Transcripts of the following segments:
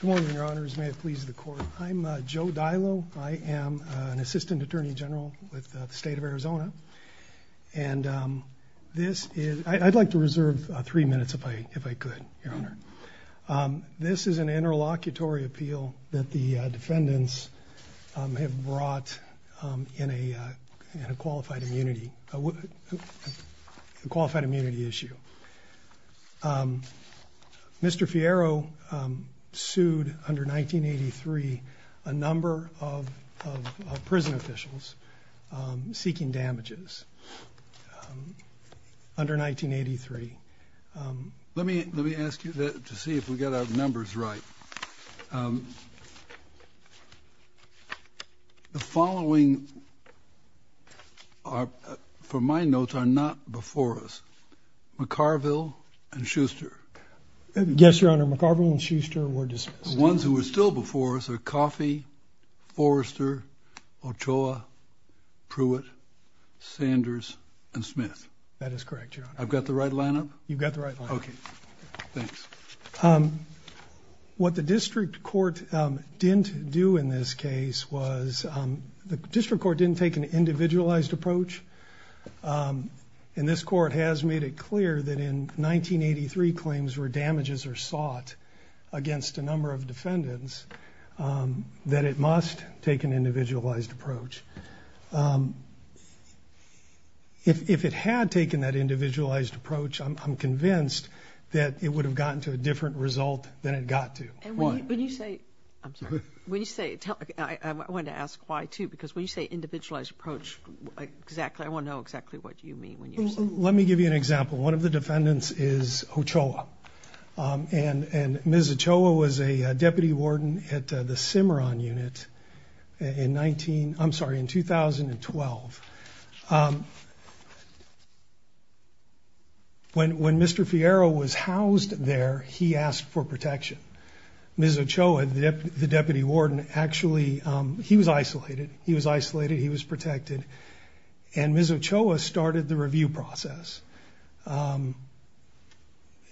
Good morning, your honors. May it please the court. I'm Joe Dilo. I am an assistant attorney general with the state of Arizona. And, um, this is I'd like to reserve three minutes if I if I could, your honor. Um, this is an interlocutory appeal that the defendants have brought in a qualified immunity, qualified immunity issue. Um, Mr Fierro, um, sued under 1983 a number of prison officials seeking damages, um, under 1983. Um, let me let me ask you to see if we got our numbers right. Um, the following are for my notes are not before us. McCarville and Schuster. Yes, your honor. McCarville and Schuster were just ones who were still before us or coffee. Forrester Ochoa Pruitt Sanders and Smith. That is correct. I've got the right lineup. You've got the right. Okay, thanks. Um, what the district court didn't do in this case was the district court didn't take an individualized approach. Um, and this court has made it clear that in 1983 claims were damages are sought against a number of defendants. Um, that it must take an individualized approach. Um, if it had taken that individualized approach, I'm convinced that it would have gotten to a different result than it got to when you say I'm sorry when you say I want to ask why, too, because when you say individualized approach, exactly, I want to know exactly what you mean when you let me give you an example. One of the defendants is Ochoa. Um, and and Ms Ochoa was a deputy warden at the Cimarron unit in 19. I'm sorry, in 2012. Um, when when Mr Fiero was housed there, he asked for protection. Ms Ochoa, the deputy warden. Actually, he was isolated. He was isolated. He was protected. And Ms Ochoa started the review process. Um,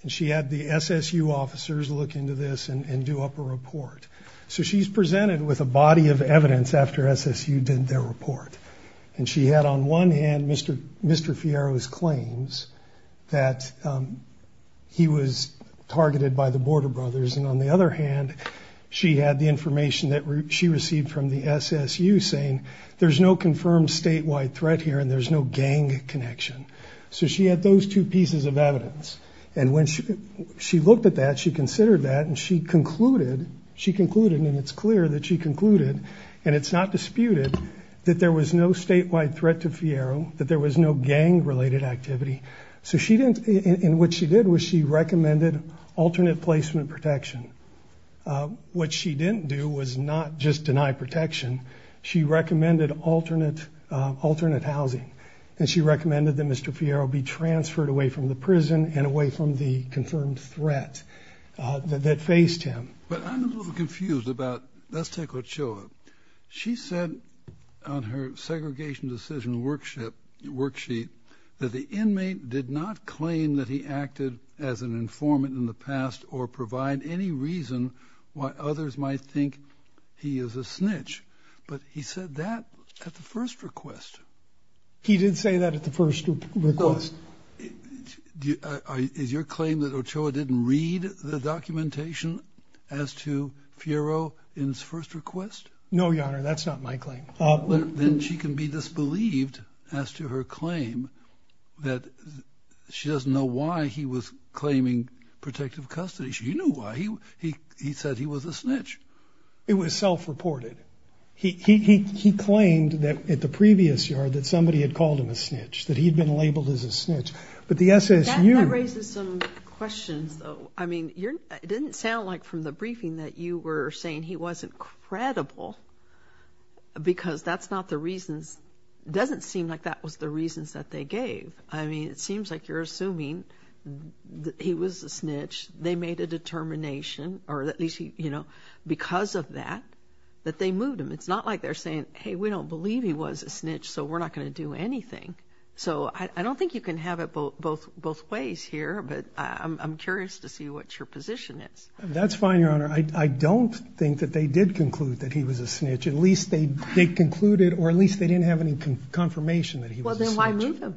and she had the S. S. U. Officers look into this and do up a report. So she's presented with a body of evidence after S. S. U. Did their report and she had on one hand, Mr Mr Fiero's claims that, um, he was targeted by the border brothers. And on the other hand, she had the information that she received from the S. S. U. Saying there's no confirmed statewide threat here and there's no gang connection. So she had those two pieces of evidence. And when she she looked at that, she considered that and she concluded she concluded and it's clear that she concluded and it's not disputed that there was no statewide threat to Fiero, that there was no gang related activity. So she didn't in what she did was she recommended alternate placement protection. Uh, what she didn't do was not just deny protection. She recommended alternate alternate housing, and she recommended that Mr Fiero be transferred away from the prison and away from the confirmed threat that faced him. But I'm a little aggregation decision work ship worksheet that the inmate did not claim that he acted as an informant in the past or provide any reason why others might think he is a snitch. But he said that at the first request, he didn't say that at the first request. Is your claim that Ochoa didn't read the documentation as to Fiero in his first request? No, Your Honor, that's not my claim. Then she can be disbelieved as to her claim that she doesn't know why he was claiming protective custody. She knew why he he said he was a snitch. It was self reported. He he he claimed that at the previous yard that somebody had called him a snitch, that he'd been labeled as a snitch. But the S. S. U. raises some questions, though. I mean, you're didn't sound like from the because that's not the reasons doesn't seem like that was the reasons that they gave. I mean, it seems like you're assuming he was a snitch. They made a determination or at least, you know, because of that, that they moved him. It's not like they're saying, Hey, we don't believe he was a snitch, so we're not gonna do anything. So I don't think you can have it both both both ways here. But I'm curious to see what your position is. That's fine, Your Honor. I concluded, or at least they didn't have any confirmation that he was a snitch. Well, then why move him?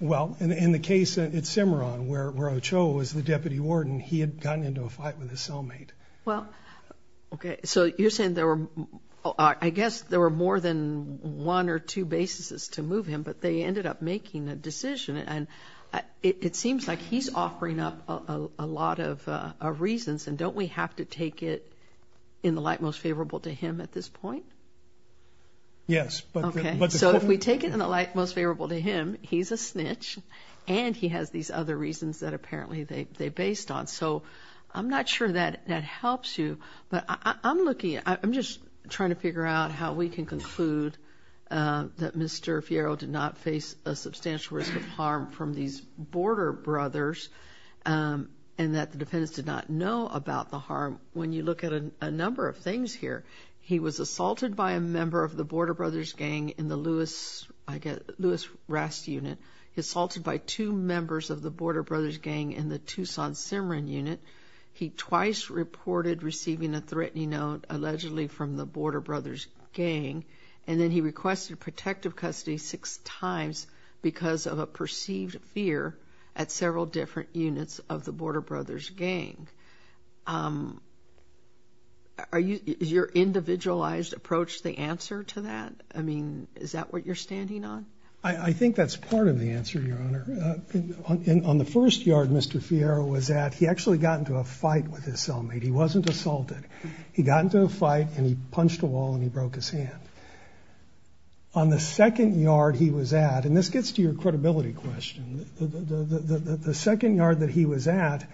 Well, in the case at Cimarron, where Ochoa was the deputy warden, he had gotten into a fight with his cellmate. Well, okay, so you're saying there were I guess there were more than one or two bases to move him, but they ended up making a decision. And it seems like he's offering up a lot of reasons. And don't we have to take it in the light most favorable to him at this point? Yes. Okay, so if we take it in the light most favorable to him, he's a snitch and he has these other reasons that apparently they based on. So I'm not sure that that helps you. But I'm looking, I'm just trying to figure out how we can conclude that Mr. Fierro did not face a substantial risk of harm from these Border Brothers and that the defendants did not know about the harm. When you look at a number of things here, he was assaulted by a member of the Border Brothers gang in the Lewis, I guess, Lewis-Rast unit. He was assaulted by two members of the Border Brothers gang in the Tucson-Cimarron unit. He twice reported receiving a threatening note, allegedly from the Border Brothers gang. And then he requested protective custody six times because of a perceived fear at several different units of the Border Brothers gang. Is your individualized approach the answer to that? I mean, is that what you're standing on? I think that's part of the answer, Your Honor. On the first yard Mr. Fierro was at, he actually got into a fight with his cellmate. He wasn't assaulted. He got into a fight. On the second yard he was at, and this gets to your credibility question, the second yard that he was at,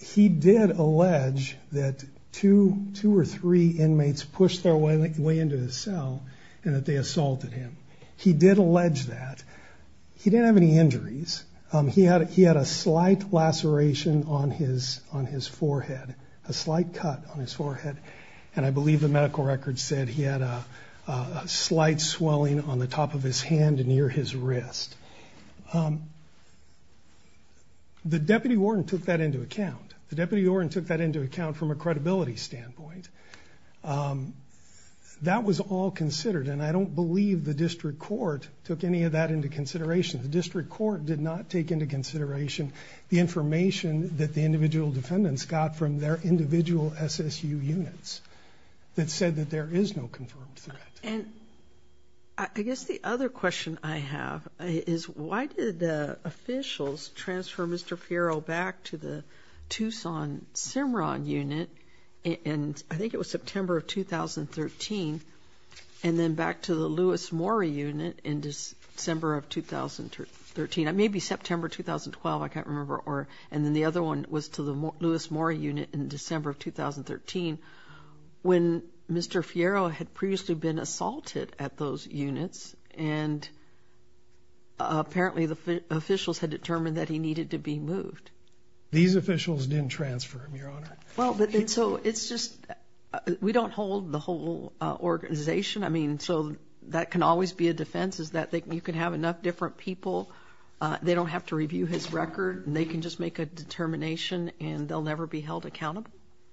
he did allege that two or three inmates pushed their way into his cell and that they assaulted him. He did allege that. He didn't have any injuries. He had a slight laceration on his forehead, a slight cut on his forehead, and I believe the medical records said he had a slight swelling on the top of his hand near his wrist. The deputy warden took that into account. The deputy warden took that into account from a credibility standpoint. That was all considered and I don't believe the district court took any of that into consideration. The district court did not take into consideration the information that the individual defendants got from their individual SSU units that said that there is no confirmed threat. And I guess the other question I have is why did the officials transfer Mr. Fierro back to the Tucson-Cimarron unit, and I think it was September of 2013, and then back to the Lewis-Moore unit in December of 2013. It may be September 2012, I can't remember, in December of 2013, when Mr. Fierro had previously been assaulted at those units, and apparently the officials had determined that he needed to be moved. These officials didn't transfer him, Your Honor. Well, but so it's just, we don't hold the whole organization, I mean, so that can always be a defense is that you can have enough different people, they don't have to review his record, and they can just make a determination and they'll never be held accountable?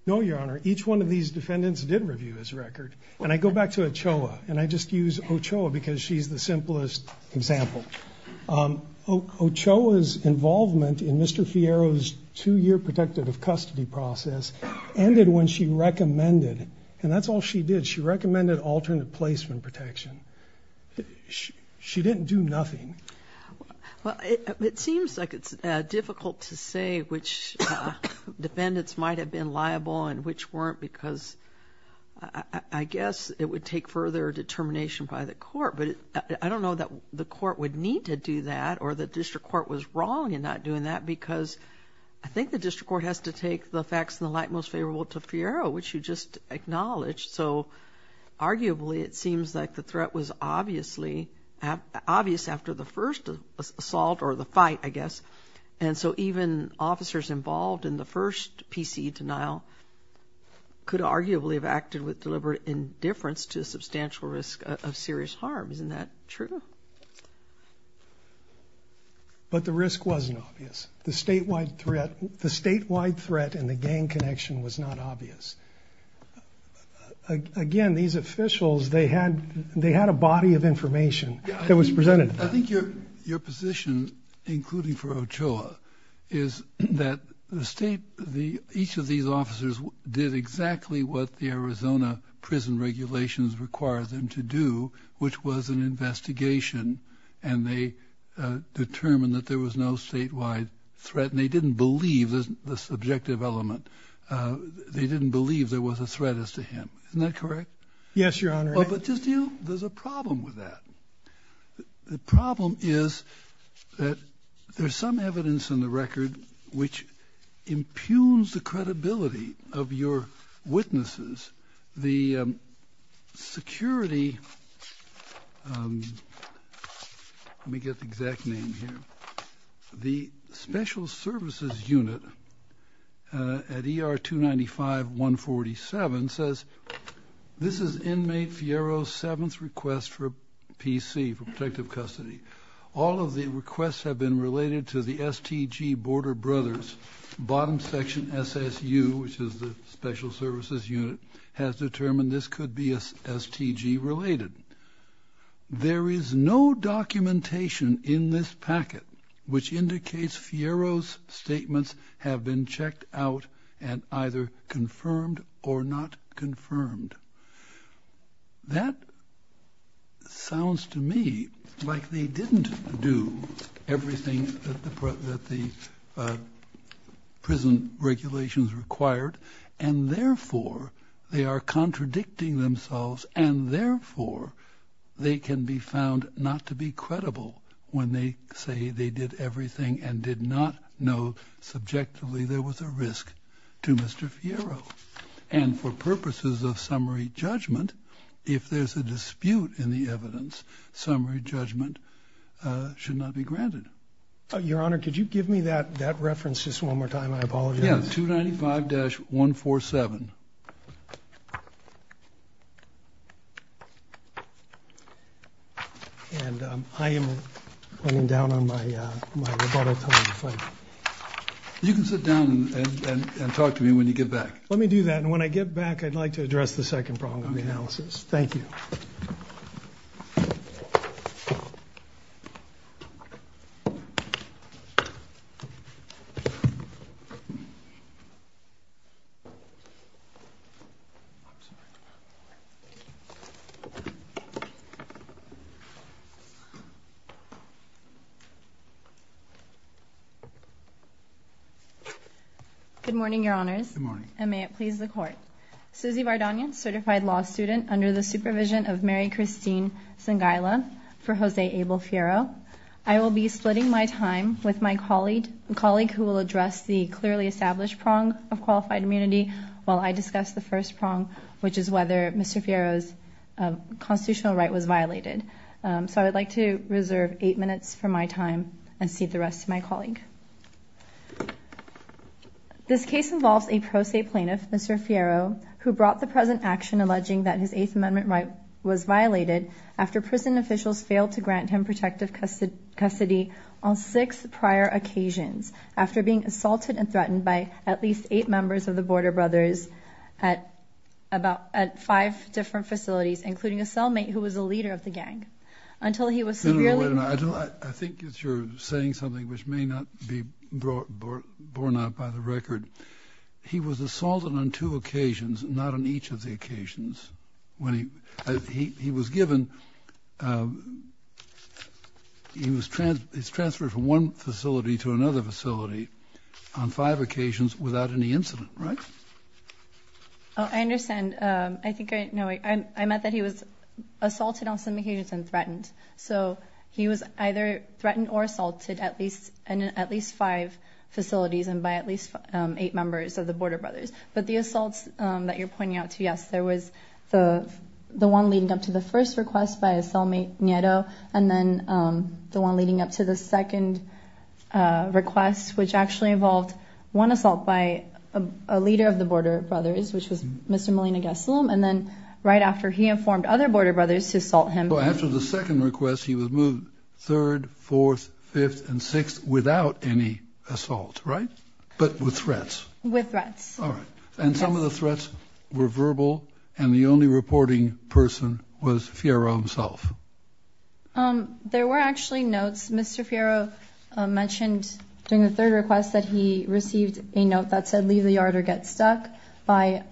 No, Your Honor. Each one of these defendants did review his record. And I go back to Ochoa, and I just use Ochoa because she's the simplest example. Ochoa's involvement in Mr. Fierro's two-year protective custody process ended when she recommended, and that's all she did, she recommended alternate placement protection. She didn't do nothing. Well, it seems like it's difficult to say which defendants might have been liable and which weren't, because I guess it would take further determination by the court. But I don't know that the court would need to do that, or the district court was wrong in not doing that, because I think the district court has to take the facts in the light most favorable to Fierro, which you just acknowledged. So arguably, it seems like the threat was obviously, obvious after the first assault or the fight, I guess. And so even officers involved in the first PCE denial could arguably have acted with deliberate indifference to substantial risk of serious harm. Isn't that true? But the risk wasn't obvious. The statewide threat and the gang connection was not obvious. Again, these officials, they had a body of information that was presented to them. I think your position, including for Ochoa, is that the state, each of these officers did exactly what the Arizona prison regulations required them to do, which was an investigation, and they determined that there was no statewide threat, and they didn't believe the subjective element. They didn't believe there was a threat as to him. Isn't that correct? Yes, Your Honor. But just, you know, there's a problem with that. The problem is that there's some evidence in the record which impugns the credibility of your witnesses. The security, let me get the exact name here, the special services unit at ER 295-147 says, this is inmate Fierro's seventh request for PC, for protective custody. All of the requests have been related to the STG Border Brothers. Bottom section SSU, which is the special services unit, has determined this could be a STG related. There is no documentation in this packet which indicates Fierro's statements have been checked out and either confirmed or not confirmed. That sounds to me like they didn't do everything that the prison regulations required, and therefore they are contradicting themselves, and therefore they can be found not to be credible when they say they did everything and did not know subjectively there was a risk to Mr. Fierro. And for purposes of summary judgment, if there's a dispute in the evidence, summary judgment should not be granted. Your Honor, could you give me that that reference just one more time? I apologize. Yeah, 295-147. You can sit down and talk to me when you get back. Let me do that. And when I get back, I'd like to address the second problem of the analysis. Thank you. Good morning, Your Honors. Good morning. And may it please the Court. Suzy Vardonian, certified law student under the supervision of Mary Christine Sangaila for Jose Abel Fierro. I will be splitting my time with my colleague who will address the clearly established prong of qualified immunity while I discuss the first prong, which is whether Mr. Fierro's constitutional right was violated. So I would like to reserve eight minutes for my time and cede the rest to my colleague. This case involves a pro se plaintiff, Mr. Fierro, who brought the present action alleging that his Eighth Amendment right was violated after prison officials failed to grant him protective custody on six prior occasions after being assaulted and threatened by at least eight members of the Border Brothers at about five different facilities, including a cellmate who was a leader of the gang, until he was severely— No, no, no, wait a minute. I don't—I think you're saying something which may not be borne out by the record. He was assaulted on two occasions, not on each of the occasions. When he—he was given—he was transferred from one facility to another facility on five occasions without any incident, right? Oh, I understand. I think I know—I meant that he was assaulted on some occasions and threatened. So he was either threatened or assaulted at least in at least five facilities and by at least eight members of the Border Brothers. But the assaults that you're pointing out to, yes, there was the—the one leading up to the first request by a cellmate, Nieto, and then the one leading up to the second request, which actually involved one assault by a leader of the Border Brothers, which was Mr. Molina Gasolum, and then right after he informed other Border Brothers to assault him— Well, after the second request, he was moved third, fourth, fifth, and sixth without any assault, right? But with threats. With threats. All right. And some of the threats were verbal, and the only reporting person was Fierro himself. Um, there were actually notes. Mr. Fierro mentioned during the third request that he received a note that said, leave the yard or get stuck, by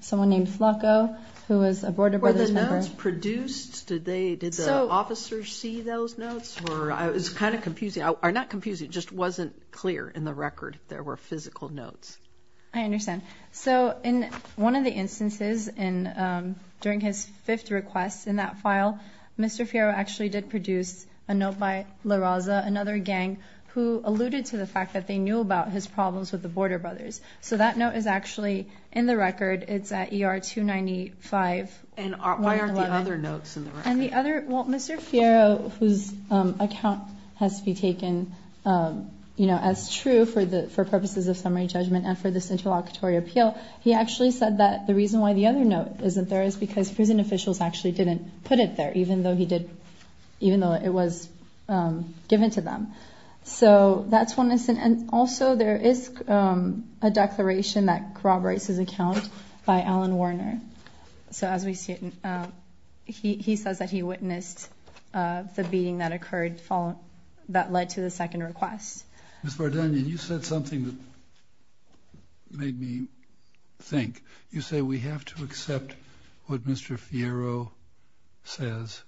someone named Flacco, who was a Border Brothers member. Were the notes produced? Did they—did the officers see those notes? Or—it's kind of confusing—or not confusing, it just wasn't clear in the record if there were physical notes. I understand. So, in one of the instances, in, um, during his fifth request in that file, Mr. Fierro actually did produce a note by La Raza, another gang, who alluded to the fact that they knew about his problems with the Border Brothers. So that note is actually in the record. It's at ER-295-111. And why aren't the other notes in the record? And the other—well, Mr. Fierro, whose, um, account has to be taken, um, you know, as true for the—for purposes of summary judgment and for this interlocutory appeal, he actually said that the reason why the other note isn't there is because prison officials actually didn't put it there, even though he did—even though it was, um, given to them. So, that's one instance. And also, there is, um, a declaration that corroborates his account by Alan Warner. So, as we see it, um, he—he says that he witnessed, uh, the beating that occurred following—that led to the second request. Ms. Vardanian, you said something that made me think. You say we have to accept what Mr. Fierro says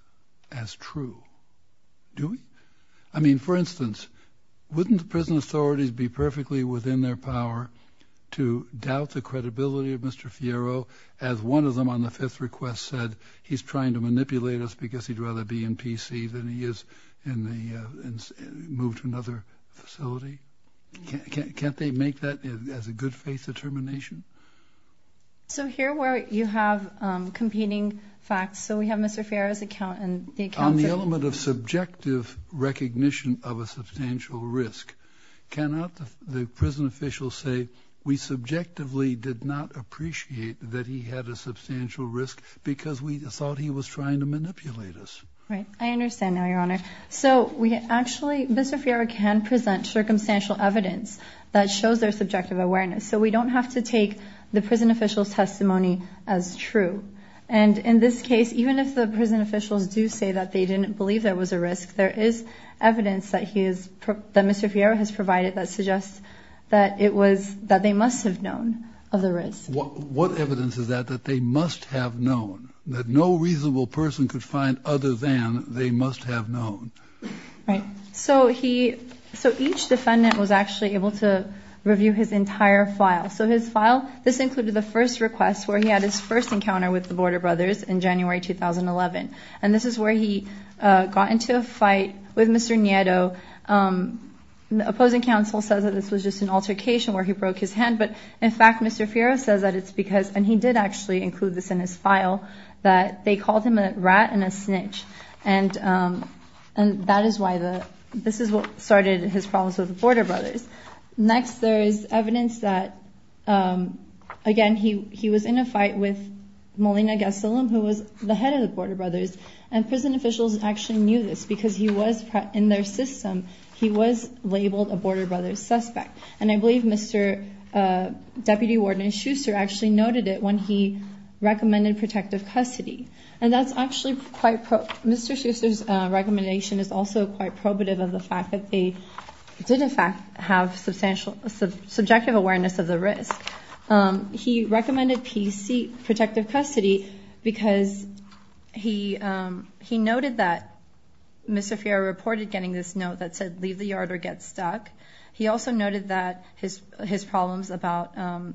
as true. Do we? I mean, for instance, wouldn't the prison authorities be perfectly within their power to doubt the credibility of Mr. Fierro, as one of them on the fifth request said, he's trying to manipulate us because he'd rather be in PC than he is in the, uh—and moved to another facility? Can't—can't they make that as a good faith determination? So, here where you have, um, competing facts, so we have Mr. Fierro's account and the accounts of— On the element of subjective recognition of a substantial risk, cannot the prison officials say, we subjectively did not appreciate that he had a substantial risk because we thought he was trying to manipulate us? Right. I understand now, Your Honor. So, we actually—Mr. Fierro can present circumstantial evidence that shows their subjective awareness, so we don't have to take the prison officials' testimony as true. And in this case, even if the prison officials do say that they didn't believe there was a risk, there is evidence that he is—that Mr. Fierro has provided that suggests that it was—that they must have known of the risk. What evidence is that that they must have known? That no reasonable person could find other than they must have known? Right. So, he—so, each defendant was actually able to review his entire file. So, his file, this included the first request where he had his first encounter with the Border Brothers in January 2011. And this is where he, uh, got into a fight with Mr. Nieto. Um, the opposing counsel says that this was just an altercation where he broke his hand. But, in fact, Mr. Fierro says that it's because—and he did actually include this in his file—that they called him a rat and a snitch. And, um, and that is why the—this is what started his problems with the Border Brothers. Next, there is evidence that, um, again, he—he was in a fight with Molina Gasolum, who was the head of the Border Brothers. And prison officials actually knew this because he was in their system. He was labeled a Border Brothers suspect. And I believe Mr. Deputy Warden Schuster actually noted it when he recommended protective custody. And that's actually quite—Mr. Schuster's recommendation is also quite probative of the fact that they did, in fact, have substantial—subjective awareness of the risk. Um, he recommended P.C. protective custody because he, um, he reported getting this note that said, leave the yard or get stuck. He also noted that his—his problems about, um,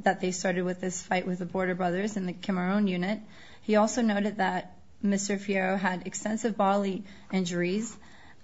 that they started with this fight with the Border Brothers in the Camarón unit. He also noted that Mr. Fierro had extensive bodily injuries,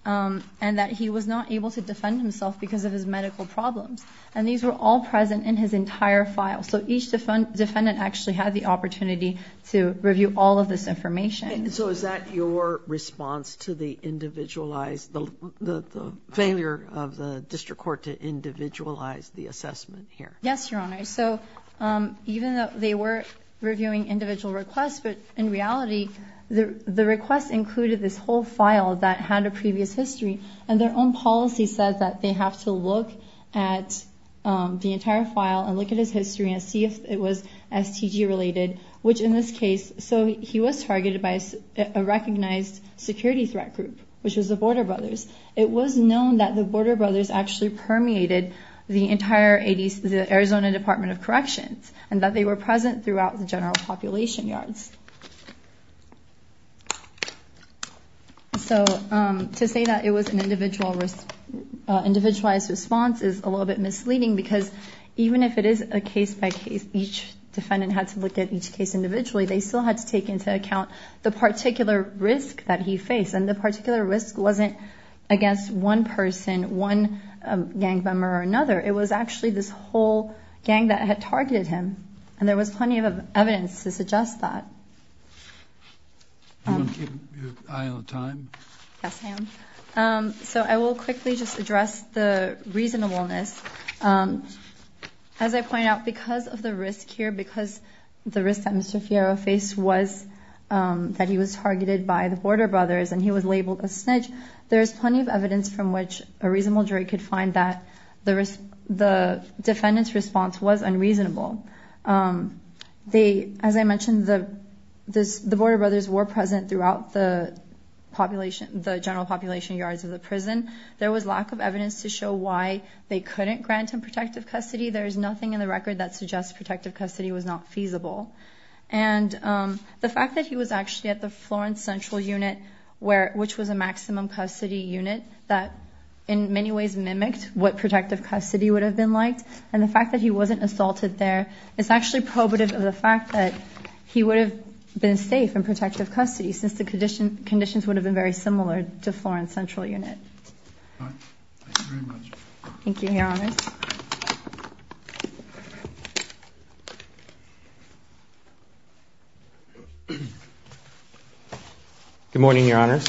um, and that he was not able to defend himself because of his medical problems. And these were all present in his entire file. So each defendant actually had the opportunity to review all of this information. And so is that your response to the individualized—the—the failure of the District Court to individualize the assessment here? Yes, Your Honor. So, um, even though they were reviewing individual requests, but in reality, the—the request included this whole file that had a previous history. And their own policy says that they have to look at, um, the entire file and look at his history and see if it was STG-related, which in this case—so he was targeted by a recognized security threat group, which was the Border Brothers. It was known that the Border Brothers actually permeated the entire 80s—the Arizona Department of Corrections, and that they were present throughout the general population yards. So, um, to say that it was an individual risk—uh, individualized response is a little bit misleading because even if it is a case-by-case, each defendant had to look at each case individually, they still had to take into account the particular risk that he faced. And the particular risk wasn't against one person, one, um, gang member or another. It was actually this whole gang that had targeted him. And there was plenty of evidence to suggest that. Do you want to keep your eye on time? Yes, ma'am. Um, so I will quickly just address the reasonableness. Um, as I pointed out, because of the risk here, because the risk that Mr. Fierro faced was, um, that he was targeted by the Border Brothers and he was labeled a snitch, there is plenty of evidence from which a reasonable jury could find that the risk—the defendant's response was unreasonable. Um, they—as I mentioned, the—this—the Border Brothers were present throughout the population—the general population yards of the prison. There was lack of evidence to show why they couldn't grant him protective custody. There is nothing in the record that suggests protective custody was not feasible. And, um, the fact that he was actually at the Florence Central Unit, where—which was a maximum custody unit, that in many ways mimicked what protective custody would have been like. And the fact that he wasn't assaulted there is actually probative of the fact that he would have been safe in protective custody since the condition—conditions would have been very similar to Florence Central Unit. All right. Thank you very much. Thank you, Your Honors. Good morning, Your Honors.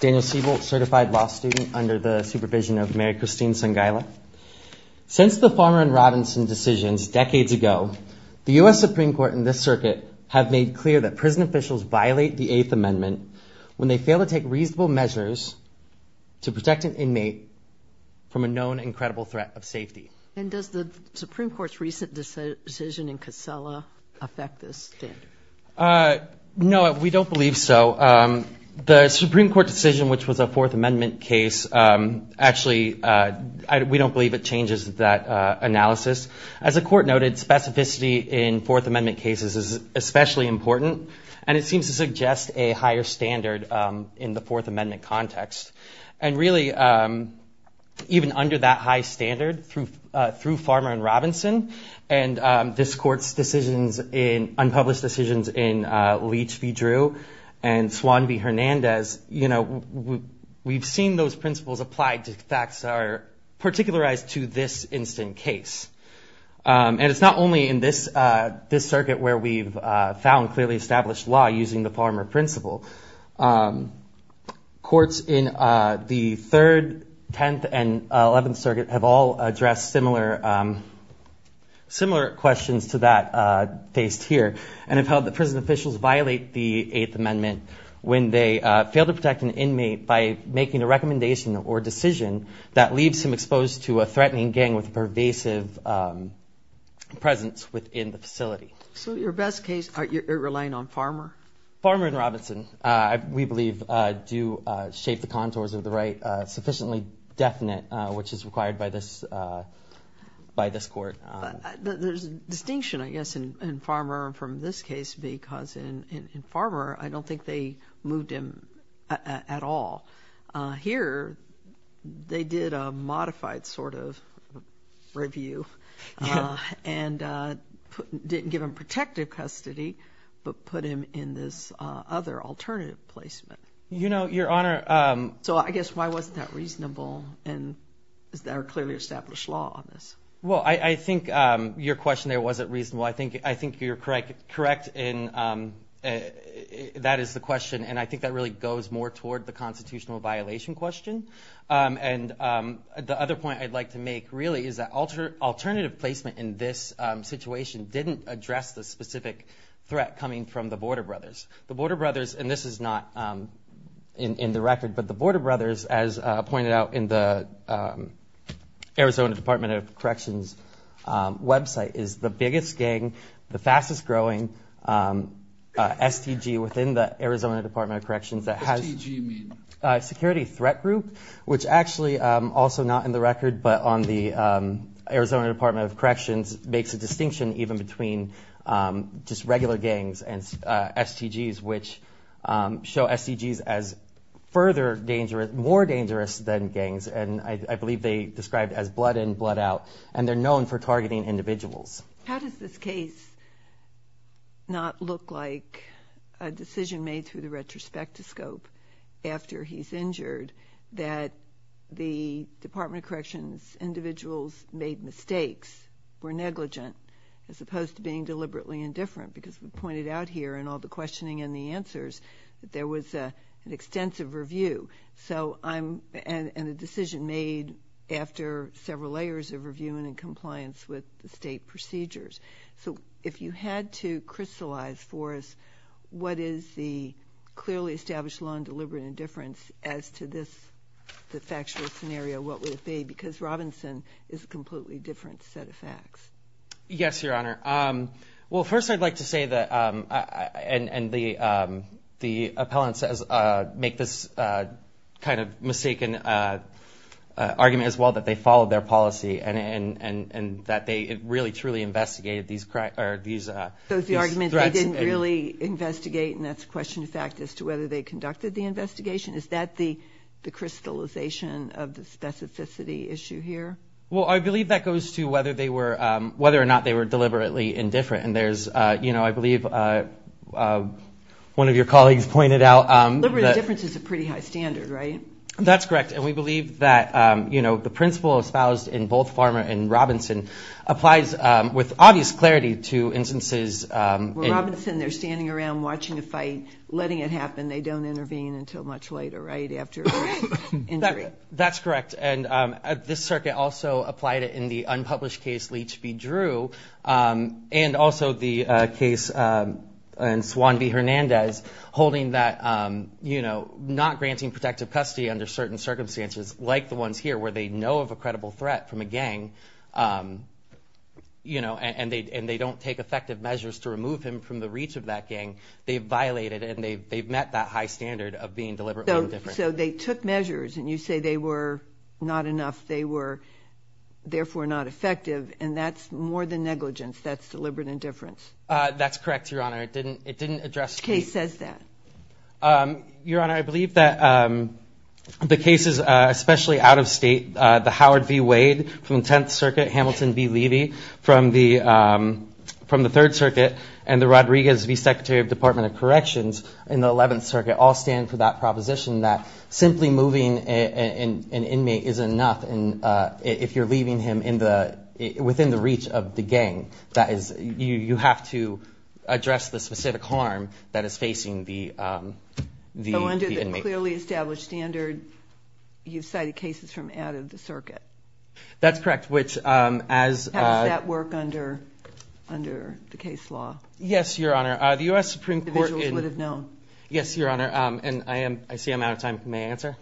Daniel Siebold, certified law student under the supervision of Mary Christine Sangaila. Since the Farmer and Robinson decisions decades ago, the U.S. Supreme Court and this circuit have made clear that prison officials violate the Eighth Amendment when they fail to take reasonable measures to protect an inmate from a known and credible threat of safety. And does the Supreme Court's recent decision in Casella affect this standard? Uh, no, we don't believe so. Um, the Supreme Court decision, which was a Fourth Amendment case, um, actually, uh, we don't believe it changes that, uh, analysis. As the Court noted, specificity in Fourth Amendment cases is especially important, and it seems to suggest a higher standard, um, in the Fourth Amendment context. And really, um, even under that high standard, through—through Farmer and Robinson, and, um, this Court's decisions in—unpublished decisions in, uh, Leach v. Drew and Swan v. Hernandez, you know, we've seen those principles applied to facts that are particularized to this instant case. Um, and it's not only in this, uh, this circuit where we've, uh, found clearly established law using the Farmer principle. Um, courts in, uh, the Third, Tenth, and Eleventh Circuit have all addressed similar, um, similar questions to that, uh, faced here, and have held that prison officials violate the Eighth Amendment when they, uh, fail to protect an inmate by making a recommendation or decision that leaves him exposed to a threatening gang with a pervasive, um, presence within the facility. So your best case, are you relying on Farmer? Farmer and Robinson, uh, we believe, uh, do, uh, shape the contours of the right, uh, sufficiently definite, uh, which is required by this, uh, by this Court. But, uh, there's a distinction, I guess, in, in Farmer from this case because in, in, in Farmer, I don't think they moved him, uh, at all. Uh, here, they did a modified sort of review, uh, and, uh, put, didn't give him protective custody, but put him in this, uh, other alternative placement. You know, Your Honor, um... So I guess why wasn't that reasonable? And is there a clearly established law on this? Well, I, I think, um, your question there wasn't reasonable. I think, I think you're correct, correct in, um, uh, that is the question, and I think that really goes more toward the constitutional violation question. Um, and, um, the other point I'd like to make really is that alter, alternative placement in this, um, situation didn't address the specific threat coming from the Border Brothers. The Border Brothers, and this is not, um, in, in the record, but the Border Brothers, as, uh, pointed out in the, um, Arizona Department of Corrections, um, website, is the biggest gang, the fastest growing, um, uh, STG within the Arizona Department of Corrections that has... STG, you mean? Security Threat Group, which actually, um, also not in the record, but on the, um, Arizona Department of Corrections makes a distinction even between, um, just regular gangs and, uh, STGs, which, um, show STGs as further dangerous, more dangerous than gangs, and I, I believe they described as blood in, blood out, and they're known for targeting individuals. How does this case not look like a decision made through the retrospectoscope after he's injured that the Department of Corrections individuals made mistakes, were negligent, as opposed to being deliberately indifferent, because we pointed out here in all the questioning and the answers that there was, uh, an extensive review, so I'm, and, and a decision made after several layers of review and in compliance with the state procedures, so if you had to crystallize for us what is the clearly established law on deliberate indifference as to this, the factual scenario, what would it be, because Robinson is a completely different set of facts. Yes, Your Honor. Um, well, first I'd like to say that, um, and, and the, um, the appellant says, uh, make this, uh, kind of mistaken, uh, uh, argument as well that they followed their policy and, and, and, and that they really, truly investigated these, uh, these, uh, these threats. So it's the argument they didn't really investigate, and that's a question of fact as to whether they conducted the investigation? Is that the, the crystallization of the specificity issue here? Well, I believe that goes to whether they were, um, whether or not they were deliberately indifferent, and there's, uh, you know, I believe, uh, uh, one of your colleagues pointed out, um, that... Deliberate indifference is a pretty high standard, right? That's correct, and we believe that, um, you know, the principle espoused in both Farmer and Robinson applies, um, with obvious clarity to instances, um, in... Well, Robinson, they're standing around watching a fight, letting it happen, they don't intervene until much later, right, after injury? That's correct, and, um, uh, this circuit also applied it in the unpublished case Leach v. Drew, um, and also the, uh, case, um, in Swan v. Hernandez, holding that, um, you know, not granting protective custody under certain circumstances, like the ones here, where they know of a credible threat from a gang, um, you know, and, and they, and they don't take effective measures to remove him from the reach of that gang, they violated, and they've, they've met that high standard of being deliberately indifferent. So they took measures, and you say they were not enough, they were therefore not effective, and that's more than negligence, that's deliberate indifference. Uh, that's correct, Your Honor, it didn't, it didn't address... Which case says that? Um, Your Honor, I believe that, um, the cases, uh, especially out of state, uh, the Howard v. Wade from the Tenth Circuit, Hamilton v. Levy from the, um, from the Third Circuit, and the Rodriguez v. Secretary of the Department of Corrections in the Eleventh Circuit all stand for that proposition that simply moving a, a, an, an inmate isn't enough, and, uh, if you're leaving him in the, within the reach of the gang, that is, you, you have to address the specific harm that is facing the, um, the, the inmate. So under the clearly established standard, you've cited cases from out of the circuit? That's correct, which, um, as, uh... How does that work under, under the case law? Yes, Your Honor, uh, the U.S. Supreme Court... Individuals would have known. Yes, Your Honor, um, and I am, I see I'm out of time. May I answer?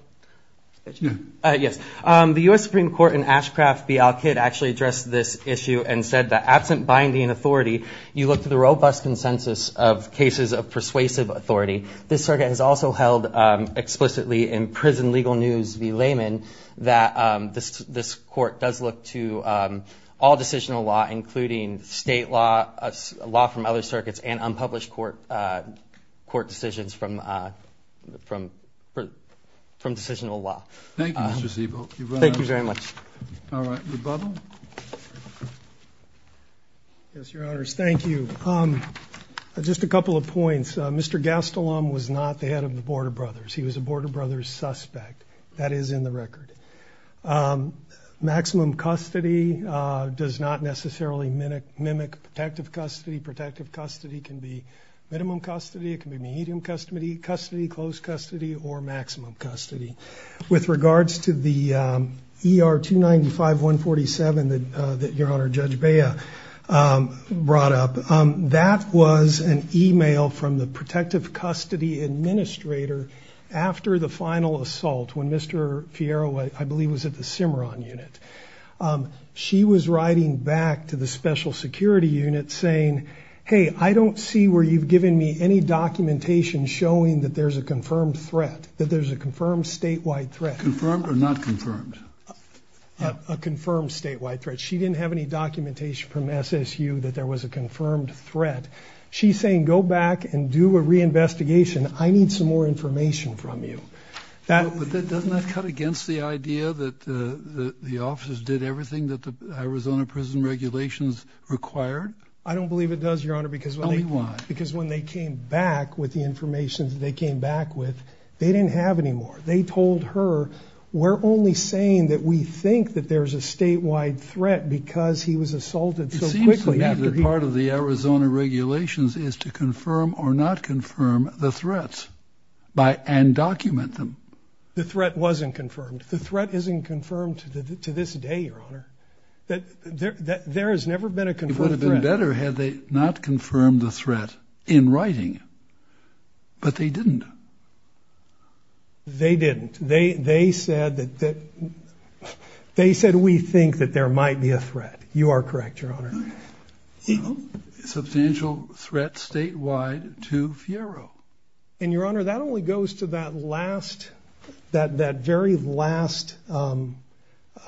Yes. Uh, yes. Um, the U.S. Supreme Court in Ashcraft v. Al-Kidd actually addressed this issue and said that absent binding authority, you look to the robust consensus of cases of persuasive authority. This circuit has also held, um, explicitly in Prison Legal News v. Lehman that, um, this, this court does look to, um, all decisional law, including state law, uh, law from other decisions from, uh, from, from, from decisional law. Thank you, Mr. Zeebo. You've run out of time. Thank you very much. All right. Rebuttal? Yes, Your Honors. Thank you. Um, just a couple of points. Uh, Mr. Gastelum was not the head of the Board of Brothers. He was a Board of Brothers suspect. That is in the record. Um, maximum custody, uh, does not necessarily mimic, mimic protective custody. Protective custody can be minimum custody. It can be medium custody, close custody or maximum custody. With regards to the, um, ER-295-147 that, uh, that Your Honor Judge Bea, um, brought up, um, that was an email from the protective custody administrator after the final assault when Mr. Fierro, I believe was at the Cimarron unit. Um, she was writing back to the special security unit saying, hey, I don't see where you've got any documentation showing that there's a confirmed threat, that there's a confirmed statewide threat. Confirmed or not confirmed? A confirmed statewide threat. She didn't have any documentation from SSU that there was a confirmed threat. She's saying, go back and do a reinvestigation. I need some more information from you. That- But that doesn't cut against the idea that, uh, the officers did everything that the Arizona prison regulations required? I don't believe it does, Your Honor, because- Tell me why. Because when they came back with the information that they came back with, they didn't have any more. They told her, we're only saying that we think that there's a statewide threat because he was assaulted so quickly after he- It seems to me that part of the Arizona regulations is to confirm or not confirm the threats by- and document them. The threat wasn't confirmed. The threat isn't confirmed to this day, Your Honor, that there has never been a confirmed threat. It would have been better had they not confirmed the threat in writing, but they didn't. They didn't. They, they said that, that they said, we think that there might be a threat. You are correct, Your Honor. Substantial threat statewide to Fiero. And Your Honor, that only goes to that last, that, that very last, um,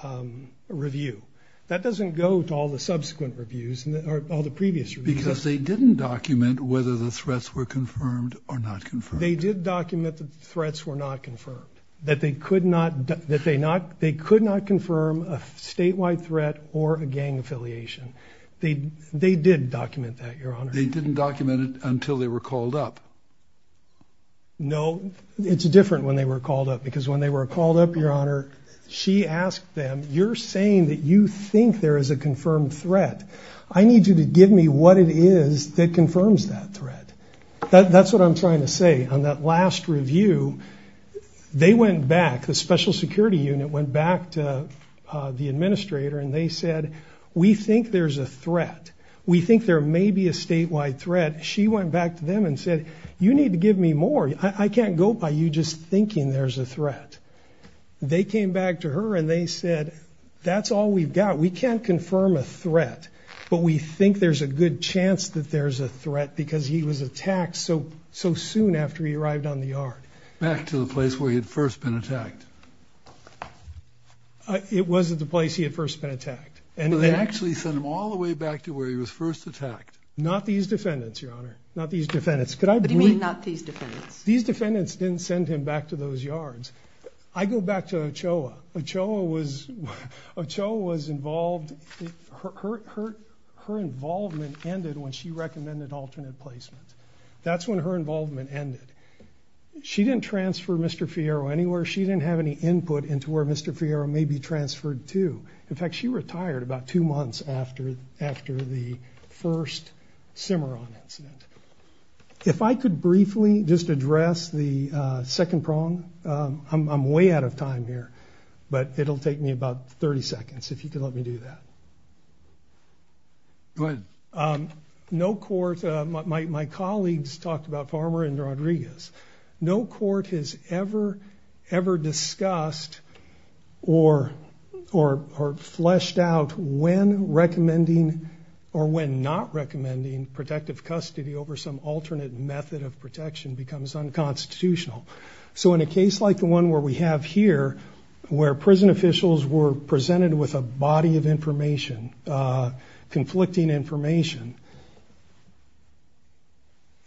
um, review. That doesn't go to all the subsequent reviews or all the previous reviews. Because they didn't document whether the threats were confirmed or not confirmed. They did document that the threats were not confirmed. That they could not, that they not, they could not confirm a statewide threat or a gang affiliation. They, they did document that, Your Honor. They didn't document it until they were called up. No, it's different when they were called up because when they were called up, Your Honor, she asked them, you're saying that you think there is a confirmed threat. I need you to give me what it is that confirms that threat. That's what I'm trying to say. On that last review, they went back, the special security unit went back to the administrator and they said, we think there's a threat. We think there may be a statewide threat. She went back to them and said, you need to give me more. I can't go by you just thinking there's a threat. They came back to her and they said, that's all we've got. We can't confirm a threat, but we think there's a good chance that there's a threat because he was attacked so, so soon after he arrived on the yard. Back to the place where he had first been attacked. It wasn't the place he had first been attacked. And they actually sent him all the way back to where he was first attacked. Not these defendants, Your Honor. Not these defendants. Could I- What do you mean, not these defendants? These defendants didn't send him back to those yards. I go back to Ochoa. Ochoa was involved, her involvement ended when she recommended alternate placement. That's when her involvement ended. She didn't transfer Mr. Fierro anywhere. She didn't have any input into where Mr. Fierro may be transferred to. In fact, she retired about two months after the first Cimarron incident. If I could briefly just address the second prong. I'm way out of time here, but it'll take me about 30 seconds if you can let me do that. Go ahead. No court, my colleagues talked about Farmer and Rodriguez. No court has ever, ever discussed or fleshed out when recommending or when not recommending protective custody over some alternate method of protection becomes unconstitutional. So in a case like the one where we have here, where prison officials were presented with a body of information, conflicting information,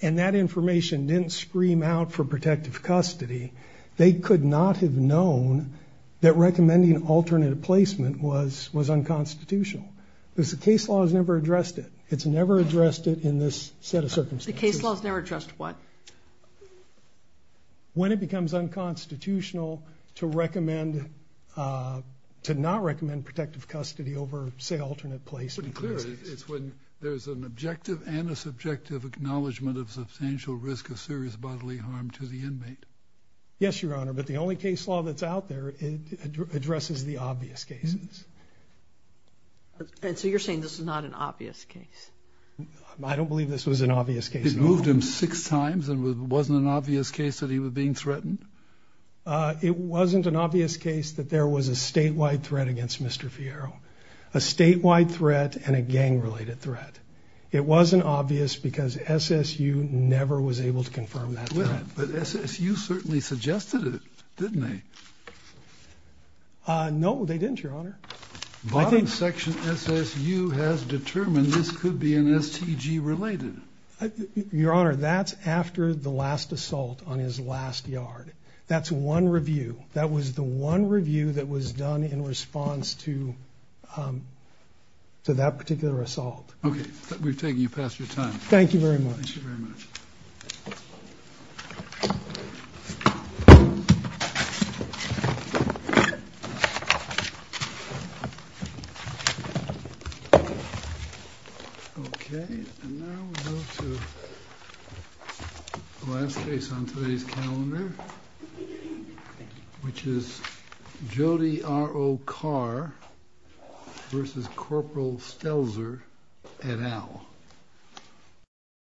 and that information didn't scream out for protective custody, they could not have known that recommending alternate placement was unconstitutional. Because the case law has never addressed it. It's never addressed it in this set of circumstances. The case law has never addressed what? When it becomes unconstitutional to recommend, to not recommend protective custody over say alternate placement. Pretty clear. It's when there's an objective and a subjective acknowledgement of substantial risk of serious bodily harm to the inmate. Yes, Your Honor, but the only case law that's out there, it addresses the obvious cases. And so you're saying this is not an obvious case? I don't believe this was an obvious case. It moved him six times and it wasn't an obvious case that he was being threatened? It wasn't an obvious case that there was a statewide threat against Mr. Fierro, a statewide threat and a gang related threat. It wasn't obvious because SSU never was able to confirm that. Well, but SSU certainly suggested it, didn't they? No, they didn't, Your Honor. Bottom section SSU has determined this could be an STG related. Your Honor, that's after the last assault on his last yard. That's one review. That was the one review that was done in response to that particular assault. Okay, we've taken you past your time. Thank you very much. Thank you very much. Okay, and now we go to the last case on today's calendar, which is Jody R. O. Carr v. Corporal Stelzer, et al.